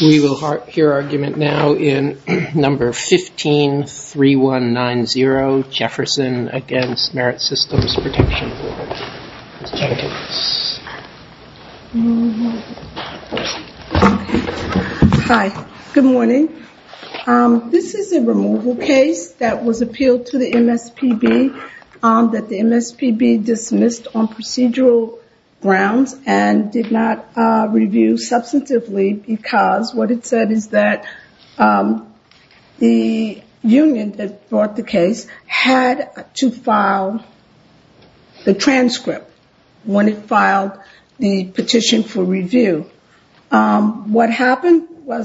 We will hear argument now in number 153190, Jefferson against Merit Systems Protection Board. Hi, good morning. This is a removal case that was appealed to the MSPB that the MSPB dismissed on procedural grounds and did not review substantively because what it said is that the union that brought the case had to file the transcript when it filed the petition for review. What happened was... by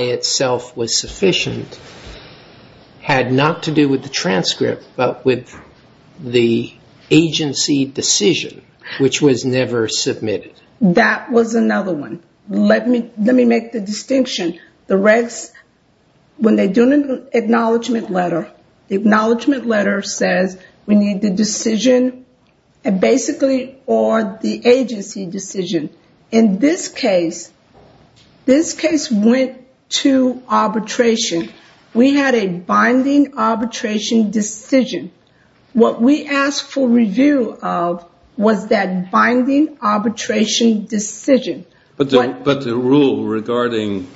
itself was sufficient, had not to do with the transcript but with the agency decision, which was never submitted. That was another one. Let me make the distinction. The regs, when they do an acknowledgement letter, the acknowledgement letter says we need the decision basically or the agency decision. In this case, this case went to arbitration. We had a binding arbitration decision. What we asked for review of was that binding arbitration decision. But the rule regarding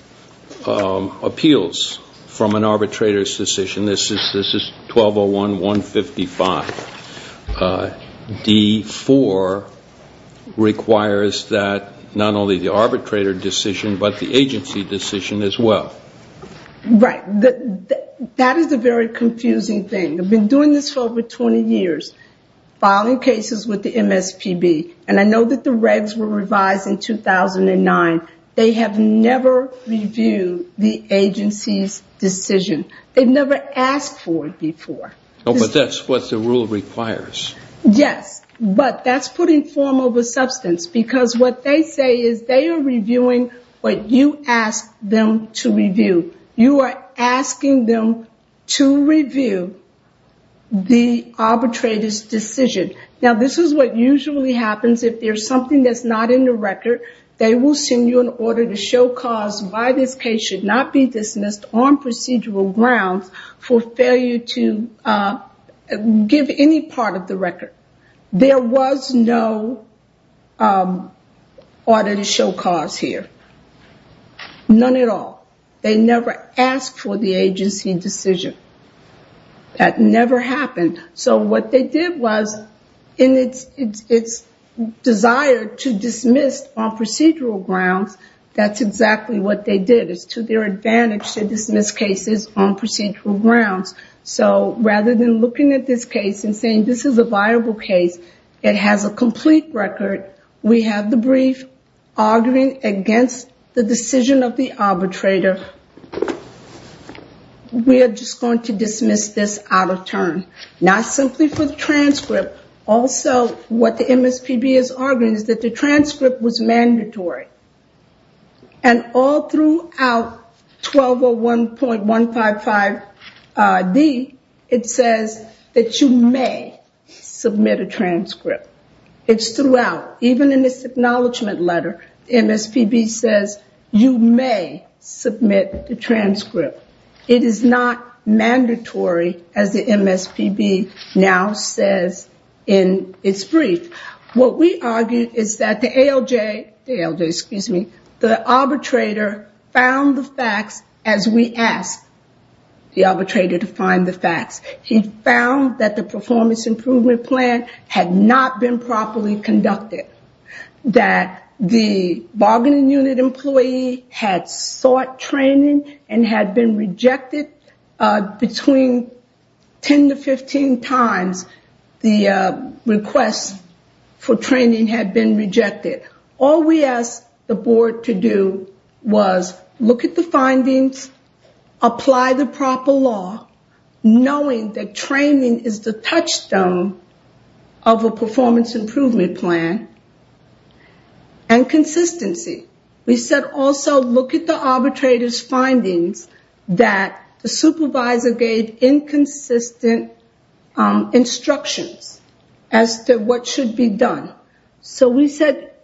appeals from an arbitrator's decision, this is 1201.155. D4 requires that not only the arbitrator decision but the agency decision as well. Right. That is a very confusing thing. I've been doing this for over 20 years, filing cases with the MSPB. I know that the regs were revised in 2009. They have never reviewed the agency's decision. They've never asked for it before. But that's what the rule requires. Yes, but that's putting form over substance because what they say is they are reviewing what you asked them to review. You are asking them to review the arbitrator's decision. Now, this is what usually happens. If there's something that's not in the record, they will send you an order to show cause why this case should not be dismissed on procedural grounds for failure to give any part of the record. There was no order to show cause here. None at all. They never asked for the agency decision. That never happened. So what they did was in its desire to dismiss on procedural grounds, that's exactly what they did. It's to their advantage to dismiss cases on procedural grounds. Rather than looking at this case and saying this is a viable case, it has a complete record, we have the brief arguing against the decision of the arbitrator. We are just going to dismiss this out of turn. Not simply for the transcript. Also, what the MSPB is arguing is that the transcript was mandatory. And all throughout 1201.155D, it says that you may submit a transcript. It's throughout. Even in this acknowledgement letter, the MSPB says you may submit the transcript. It is not mandatory as the MSPB now says in its brief. What we argue is that the arbitrator found the facts as we asked the arbitrator to find the facts. He found that the performance improvement plan had not been properly conducted. That the bargaining unit employee had sought training and had been rejected between 10 to 15 times the request for training had been rejected. All we asked the board to do was look at the findings, apply the proper law, knowing that training is the touchstone of a performance improvement plan, and consistency. We said also look at the arbitrator's findings that the supervisor gave inconsistent instructions as to what should be done. So we said,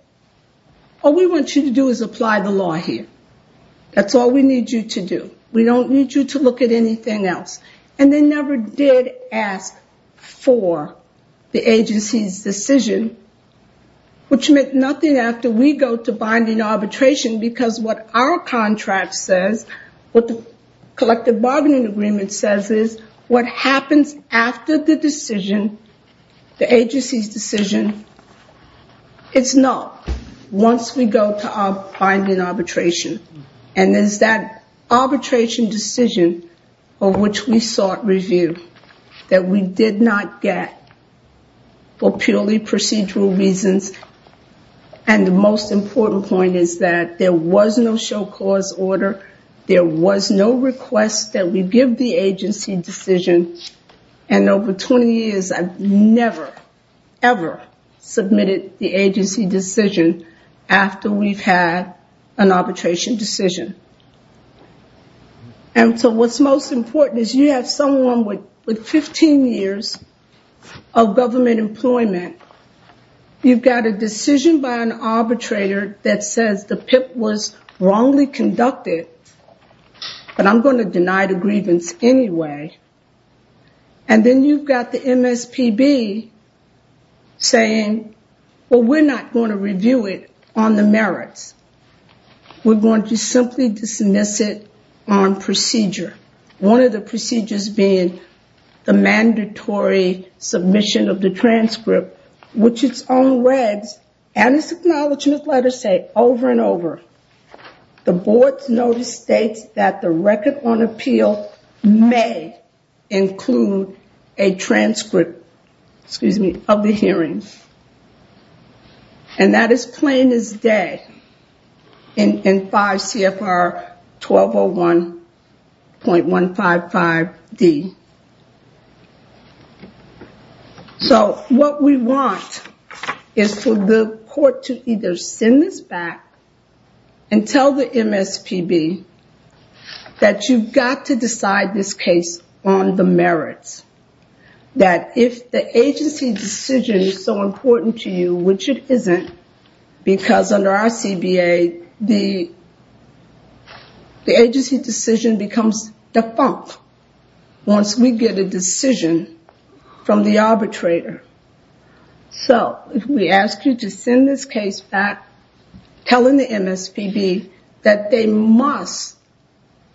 all we want you to do is apply the law here. That's all we need you to do. We don't need you to look at anything else. And they never did ask for the agency's decision, which meant nothing after we go to binding arbitration because what our contract says, what the collective bargaining agreement says is what happens after the decision, the agency's decision, it's null once we go to our binding arbitration. And it's that arbitration decision of which we sought review that we did not get for purely procedural reasons. And the most important point is that there was no show cause order. There was no request that we give the agency decision. And over 20 years I've never, ever submitted the agency decision after we've had an arbitration decision. And so what's most important is you have someone with 15 years of government employment, you've got a decision by an arbitrator that says the PIP was wrongly conducted, but I'm going to deny the grievance anyway, and then you've got the MSPB saying, well, we're not going to review it on the merits. We're going to simply dismiss it on procedure. One of the procedures being the mandatory submission of the transcript, which its own regs and its acknowledgement letters say over and over, the board's notice states that the record on appeal may include a transcript of the hearing. And that is plain as day in 5 CFR 1201.155D. So what we want is for the court to either send this back and tell the MSPB that you've got to decide this case on the merits. That if the agency decision is so important to you, which it isn't, because under our CBA the agency decision becomes defunct. Unless we get a decision from the arbitrator. So if we ask you to send this case back telling the MSPB that they must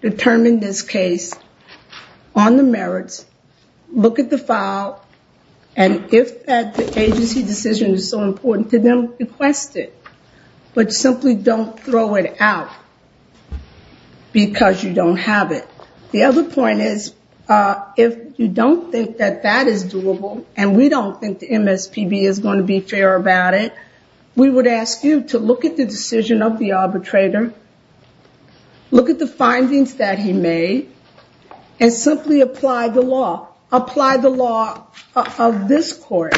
determine this case on the merits, look at the file, and if that agency decision is so important to them, request it. But simply don't throw it out because you don't have it. The other point is, if you don't think that that is doable, and we don't think the MSPB is going to be fair about it, we would ask you to look at the decision of the arbitrator, look at the findings that he made, and simply apply the law. Apply the law of this court,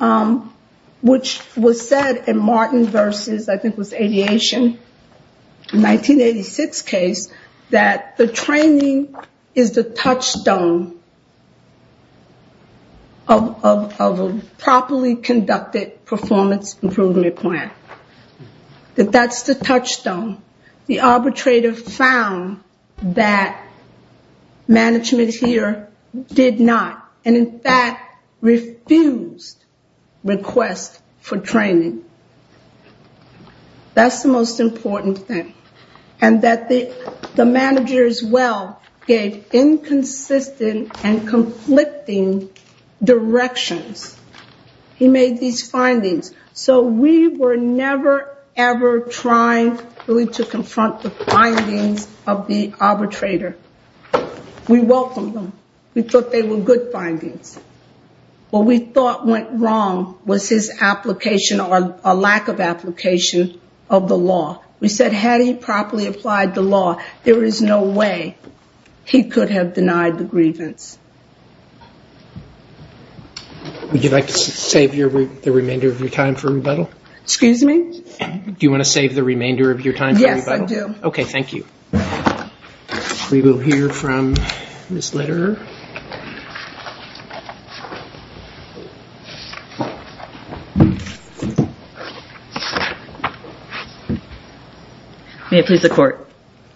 which was said in Martin versus, I think it was Aviation, 1986 case, that the training is the touchstone of a properly conducted performance improvement plan. That that's the touchstone. The arbitrator found that management here did not, and in fact refused request for training. That's the most important thing. And that the manager as well gave inconsistent and conflicting directions. He made these findings. So we were never, ever trying really to confront the findings of the arbitrator. We welcomed them. We thought they were good findings. What we thought went wrong was his application or lack of application of the law. We said had he properly applied the law, there is no way he could have denied the grievance. Would you like to save the remainder of your time for rebuttal? Excuse me? Do you want to save the remainder of your time for rebuttal? Yes, I do. Okay, thank you. We will hear from Ms. Lederer. May it please the Court.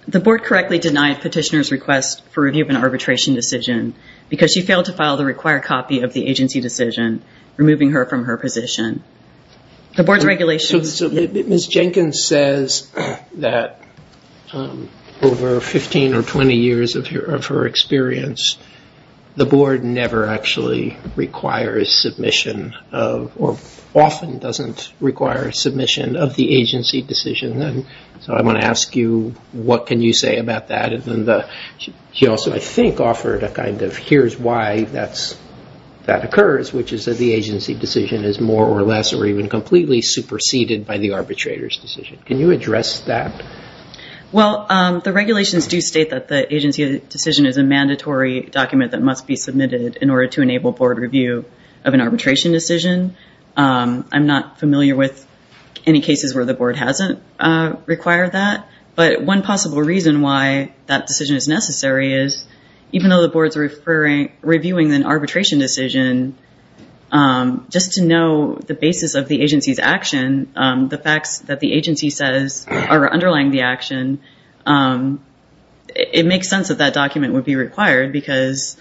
The Board correctly denied petitioner's request for review of an arbitration decision because she failed to file the required copy of the agency decision, removing her from her position. Ms. Jenkins says that over 15 or 20 years of her experience, the Board never actually requires submission, or often doesn't require submission of the agency decision. So I want to ask you, what can you say about that? She also, I think, offered a kind of here's why that occurs, which is that the agency decision is more or less or even completely superseded by the arbitrator's decision. Can you address that? Well, the regulations do state that the agency decision is a mandatory document that must be submitted in order to enable Board review of an arbitration decision. I'm not familiar with any cases where the Board hasn't required that, but one possible reason why that decision is necessary is even though the Board is reviewing an arbitration decision, just to know the basis of the agency's action, the facts that the agency says are underlying the action, it makes sense that that document would be required, because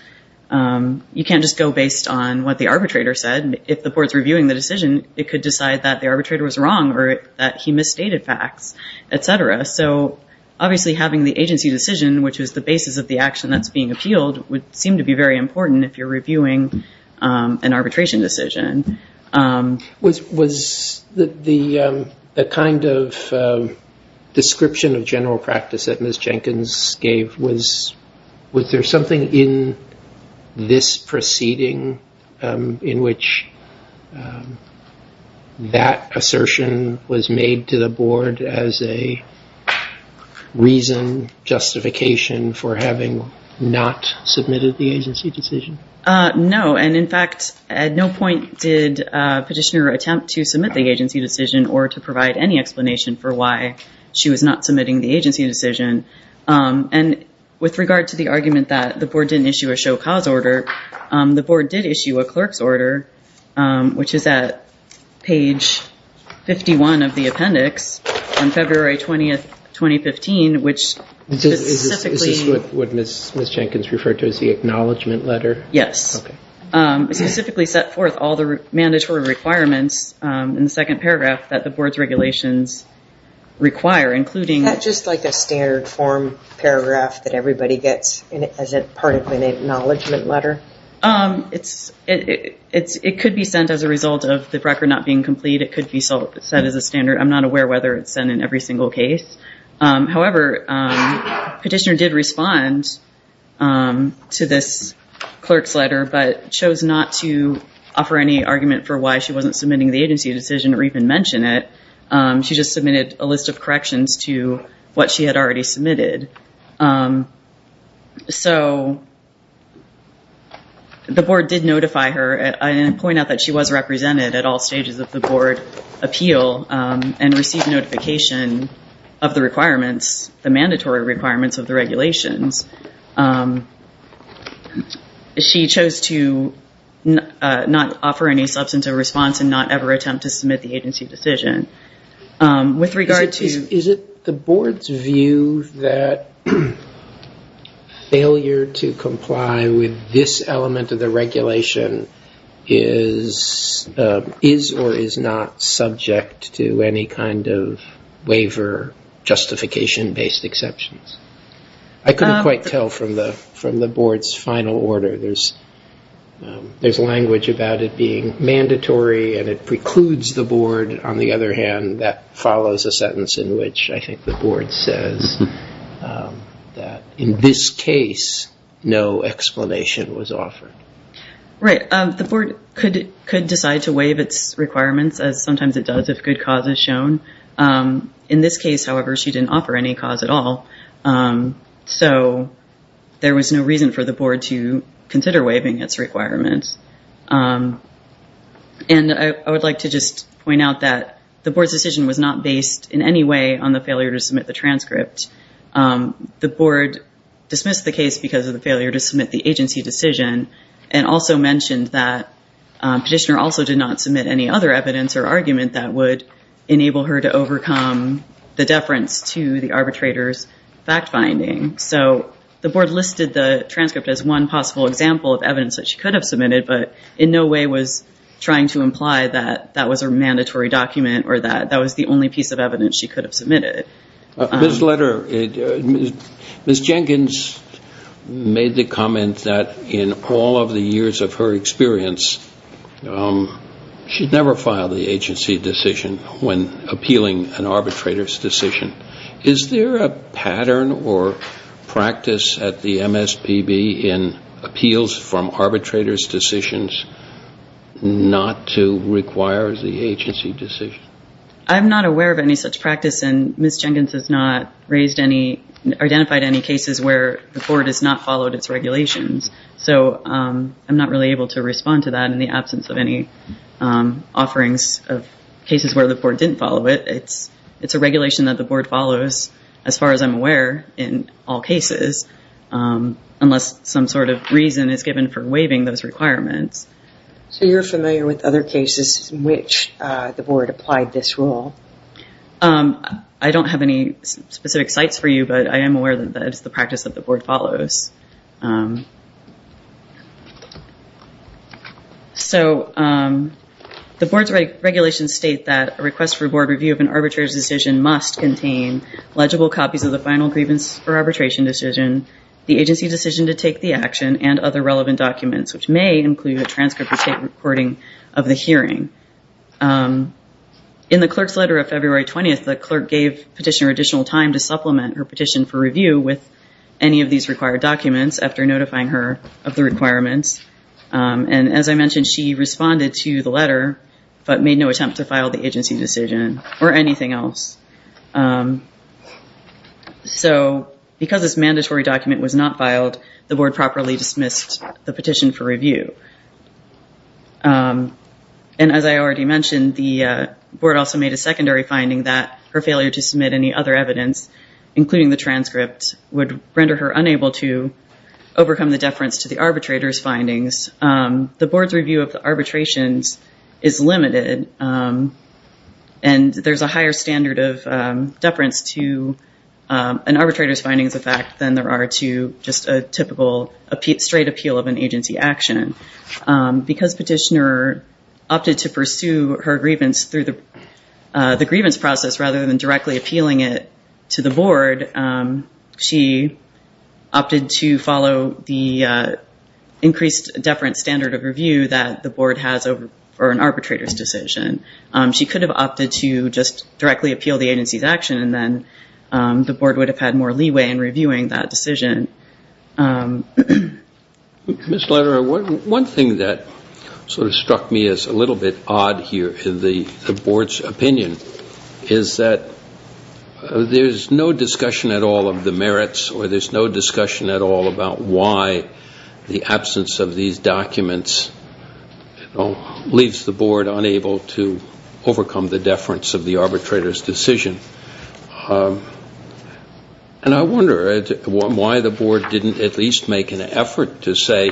you can't just go based on what the arbitrator said. If the Board's reviewing the decision, it could decide that the arbitrator was wrong or that he misstated facts, etc. So obviously having the agency decision, which is the basis of the action that's being appealed, would seem to be very important if you're reviewing an arbitration decision. Was the kind of description of general practice that Ms. Jenkins gave, was there something in this proceeding in which that assertion was made to the Board as a reason, justification for having not submitted the agency decision? No, and in fact, at no point did Petitioner attempt to submit the agency decision or to provide any explanation for why she was not submitting the agency decision. And with regard to the argument that the Board didn't issue a show cause order, the Board did issue a clerk's order, which is at page 51 of the appendix, on February 20, 2015, which specifically... Is this what Ms. Jenkins referred to as the acknowledgment letter? Yes. It specifically set forth all the mandatory requirements in the second paragraph that the Board's regulations require, including... Just like a standard form paragraph that everybody gets as part of an acknowledgment letter? It could be sent as a result of the record not being complete. It could be set as a standard. I'm not aware whether it's sent in every single case. However, Petitioner did respond to this clerk's letter, but chose not to offer any argument for why she wasn't submitting the agency decision or even mention it. She just submitted a list of corrections to what she had already submitted. The Board did notify her and point out that she was represented at all stages of the Board appeal and received notification of the requirements, the mandatory requirements of the regulations. She chose to not offer any substantive response and not ever attempt to submit the agency decision. Is it the Board's view that failure to comply with this application element of the regulation is or is not subject to any kind of waiver justification-based exceptions? I couldn't quite tell from the Board's final order. There's language about it being mandatory and it precludes the Board. On the other hand, that follows a sentence in which I think the Board says that in this case, no explanation was offered. The Board could decide to waive its requirements as sometimes it does if good cause is shown. In this case, however, she didn't offer any cause at all. There was no reason for the Board to consider waiving its requirements. I would like to just point out that the Board's decision was not based in any way on the failure to submit the transcript. The Board dismissed the case because of the failure to submit the agency decision and also mentioned that Petitioner also did not submit any other evidence or argument that would enable her to overcome the deference to the arbitrator's fact-finding. So the Board listed the transcript as one possible example of evidence that she could have submitted but in no way was trying to imply that that was a mandatory document or that that was the only piece of evidence she could have submitted. Ms. Jenkins made the comment that in all of the years of her experience, she'd never filed the agency decision when appealing an arbitrator's decision. Is there a pattern or practice at the MSPB in appeals from arbitrator's decisions not to require the agency decision? I'm not aware of any such practice and Ms. Jenkins has not identified any cases where the Board has not followed its regulations. So I'm not really able to respond to that in the absence of any offerings of cases where the Board didn't follow it. It's a regulation that the Board follows, as far as I'm aware, in all cases, unless some sort of reason is given for waiving those requirements. So you're familiar with other cases in which the Board applied this rule? I don't have any specific sites for you, but I am aware that it's the practice that the Board follows. So the Board's regulations state that a request for Board review of an arbitrator's decision must contain legible copies of the final grievance or arbitration decision, the agency decision to take the action, and other relevant documents, which may include a transcript or state recording of the hearing. In the clerk's letter of February 20th, the clerk gave petitioner additional time to supplement her petition for review with any of these required documents after notifying her of the requirements. And as I mentioned, she responded to the letter but made no attempt to file the agency decision or anything else. So because this mandatory document was not filed, the Board properly dismissed the petition for review. And as I already mentioned, the Board also made a secondary finding that her failure to submit any other evidence, including the transcript, would render her unable to overcome the deference to the arbitrator's findings The Board's review of the arbitrations is limited, and there's a higher standard of deference to an arbitrator's findings than there are to just a typical straight appeal of an agency action. Because petitioner opted to pursue her grievance through the grievance process rather than directly appealing it to the Board, she opted to follow the increased deference standard of review that the Board has for an arbitrator's decision. She could have opted to just directly appeal the agency's action, and then the Board would have had more leeway in reviewing that decision. One thing that sort of struck me as a little bit odd here in the Board's opinion is that there's no discussion at all of the merits, or there's no discussion at all about why the absence of these documents leaves the Board unable to overcome the deference of the arbitrator's decision. And I wonder why the Board didn't at least make an effort to say,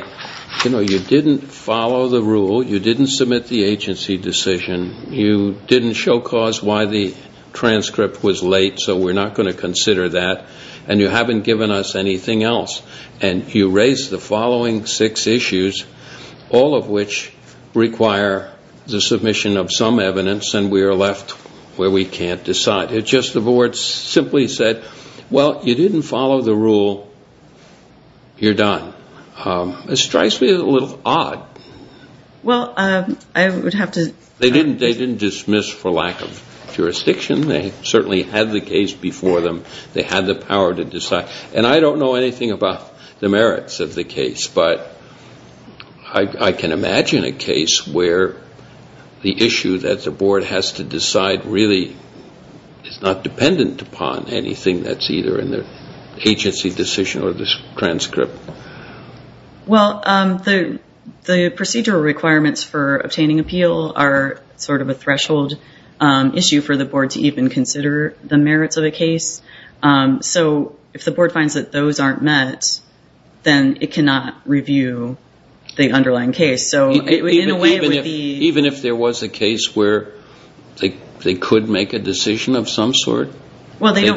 you know, you didn't follow the rule, you didn't submit the agency decision, you didn't show cause why the transcript was late, so we're not going to consider that, and you haven't given us anything else. And you raise the following six issues, all of which require the submission of some evidence, and we are left where we can't decide. It's just the Board simply said, well, you didn't follow the rule, you're done. It strikes me as a little odd. They didn't dismiss for lack of jurisdiction. They certainly had the case before them. They had the power to decide, and I don't know anything about the merits of the case, but I can imagine a case where the issue that the Board has to decide really is not dependent upon anything that's either in the agency decision or the transcript. Well, the procedural requirements for obtaining appeal are sort of a threshold issue for the Board to even consider the merits of a case, so if the Board finds that those aren't met, then it cannot review the underlying case. Even if there was a case where they could make a decision of some sort? Well, they're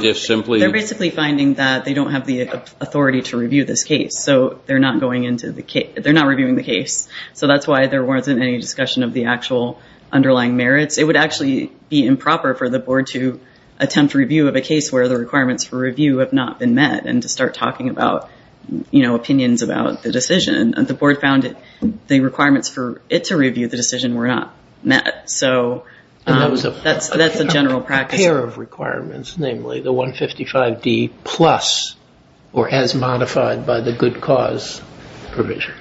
basically finding that they don't have the authority to review this case, so they're not reviewing the case, so that's why there wasn't any discussion of the actual underlying merits. It would actually be improper for the Board to attempt review of a case where the requirements for review have not been met and to start talking about opinions about the decision. The Board found the requirements for it to review the decision were not met. And that was a pair of requirements, namely the 155D plus or as modified by the good cause provision.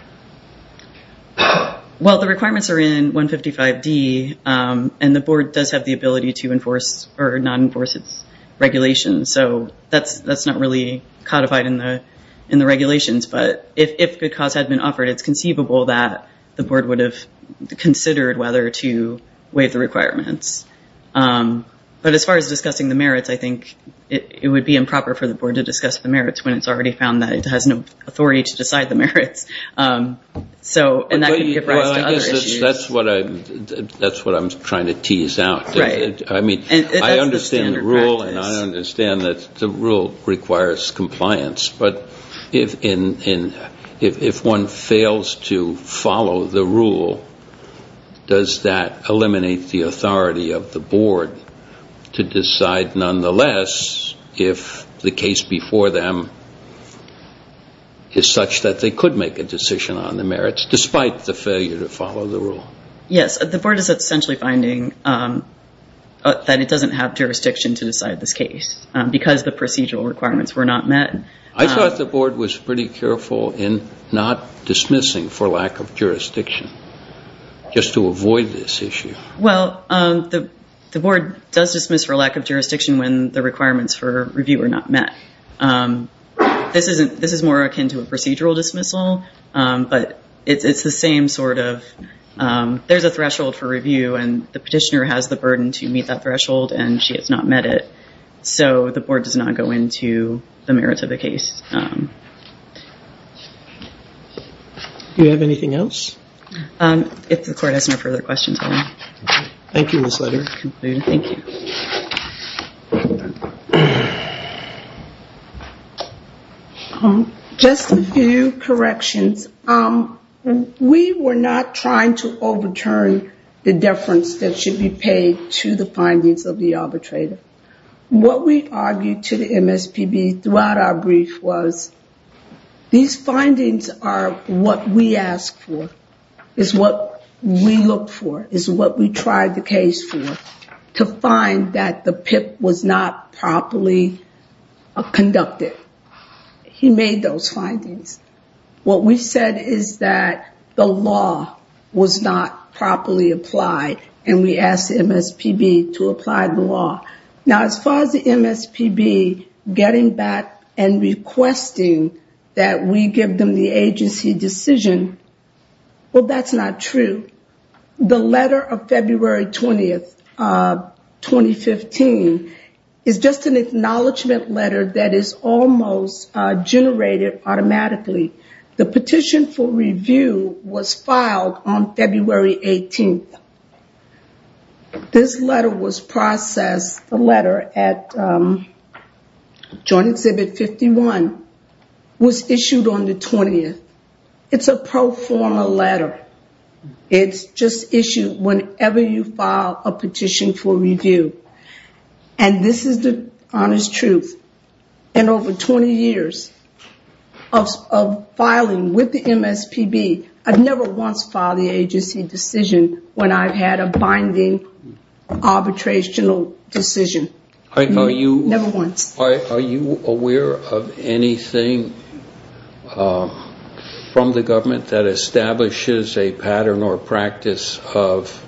Well, the requirements are in 155D, and the Board does have the ability to not enforce its regulations, so that's not really codified in the regulations, but if good cause had been offered, it's conceivable that the Board would have considered whether to waive the requirements. But as far as discussing the merits, I think it would be improper for the Board to discuss the merits when it's already found that it has no authority to decide the merits. That's what I'm trying to tease out. I understand that the rule requires compliance, but if one fails to follow the rule, does that eliminate the authority of the Board to decide nonetheless if the case before them is such that they could make a decision on the merits, despite the failure to follow the rule? Yes, the Board is essentially finding that it doesn't have jurisdiction to decide this case because the procedural requirements were not met. I thought the Board was pretty careful in not dismissing for lack of jurisdiction, just to avoid this issue. Well, the Board does dismiss for lack of jurisdiction when the requirements for review are not met. This is more akin to a procedural dismissal, but it's the same sort of there's a threshold for review and the petitioner has the burden to meet that threshold and she has not met it. The Board does not go into the merits of the case. Do you have anything else? Just a few corrections. We were not trying to overturn the deference that should be paid to the findings of the arbitrator. What we argued to the MSPB throughout our brief was, these findings are what we asked for, is what we looked for, is what we tried the case for, to find that the PIP was not properly conducted. He made those findings. What we said is that the law was not properly applied and we asked the MSPB to apply the law. Now, as far as the MSPB getting back and requesting that we give them the agency decision, well, that's not true. The letter of February 20th, 2015, is just an acknowledgement letter that is almost generated automatically. The petition for review was filed on February 18th. This letter was processed. The letter at Joint Exhibit 51 was issued on the 20th. It's a pro forma letter. It's just issued whenever you file a petition for review. This is the honest truth. In over 20 years of filing with the MSPB, I've never once filed the agency decision when I've had a binding arbitrational decision. Never once. Are you aware of anything from the government that establishes a pattern or practice of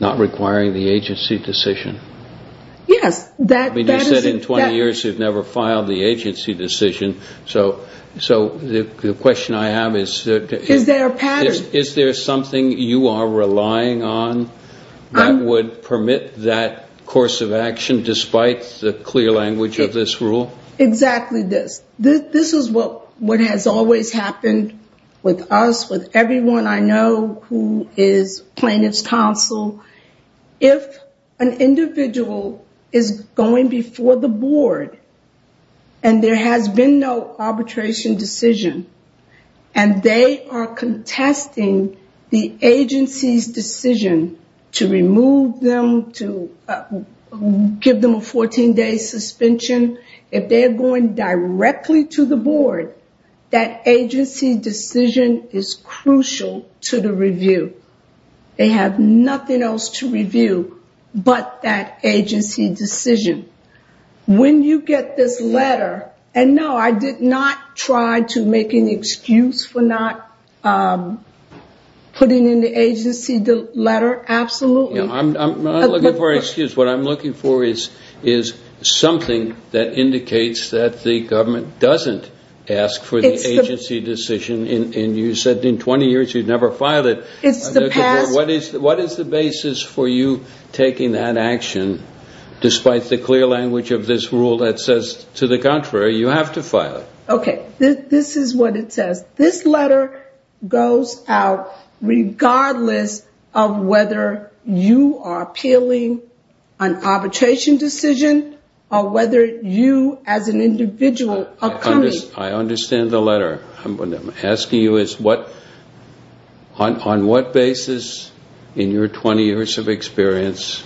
not requiring the agency decision? Yes. You said in 20 years you've never filed the agency decision. The question I have is, is there something you are relying on that would permit that course of action despite the clear language of this rule? Exactly this. This is what has always happened with us, with everyone I know who is plaintiff's counsel. If an individual is going before the board and there has been no arbitration decision, and they are contesting the agency's decision to remove them, to give them a 14-day suspension, if they're going directly to the board, that agency decision is crucial to the review. They have nothing else to review but that agency decision. When you get this letter, and no, I did not try to make an excuse for not putting in the agency letter, absolutely. I'm not looking for an excuse. What I'm looking for is something that indicates that the government doesn't ask for the agency decision. You said in 20 years you've never filed it. What is the basis for you taking that action despite the clear language of this rule that says to the contrary, you have to file it? This is what it says. This letter goes out regardless of whether you are appealing an arbitration decision or whether you as an individual are coming. I understand the letter. I'm asking you on what basis in your 20 years of experience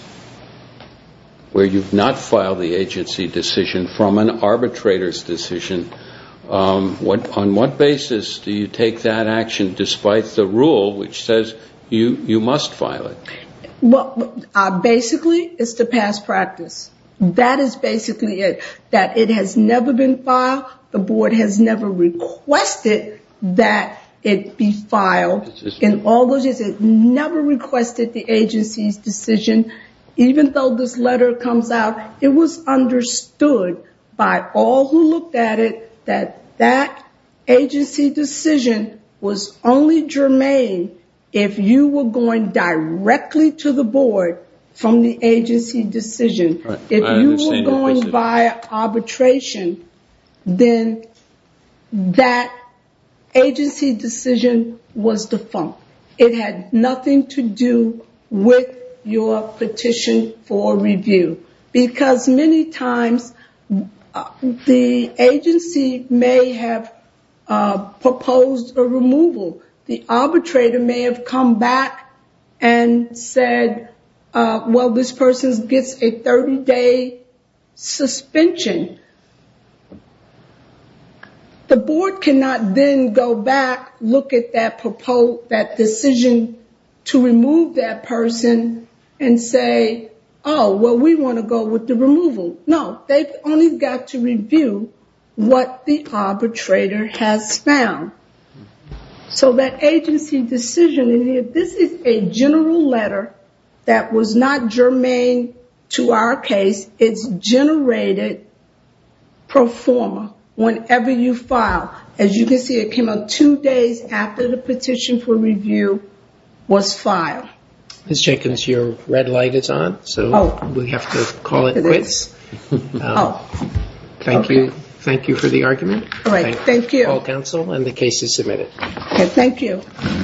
where you've not filed the agency decision from an arbitrator's decision, on what basis do you take that action despite the rule which says you must file it? Basically, it's the past practice. That is basically it, that it has never been filed. The board has never requested that it be filed. It never requested the agency's decision. Even though this letter comes out, it was understood by all who looked at it that that agency decision was only germane if you were going directly to the board from the agency decision. If you were going by arbitration, then that agency decision was defunct. It had nothing to do with your petition for review. Because many times the agency may have proposed a removal. The arbitrator may have come back and said, well, this person gets a 30-day suspension. The board cannot then go back, look at that decision to remove that person and say, oh, well, we want to go with the removal. No, they've only got to review what the arbitrator has found. So that agency decision, this is a general letter that was not germane to our case. It's generated pro forma whenever you file. As you can see, it came out two days after the petition for review was filed. Ms. Jenkins, your red light is on, so we have to call it quits. Thank you for the argument.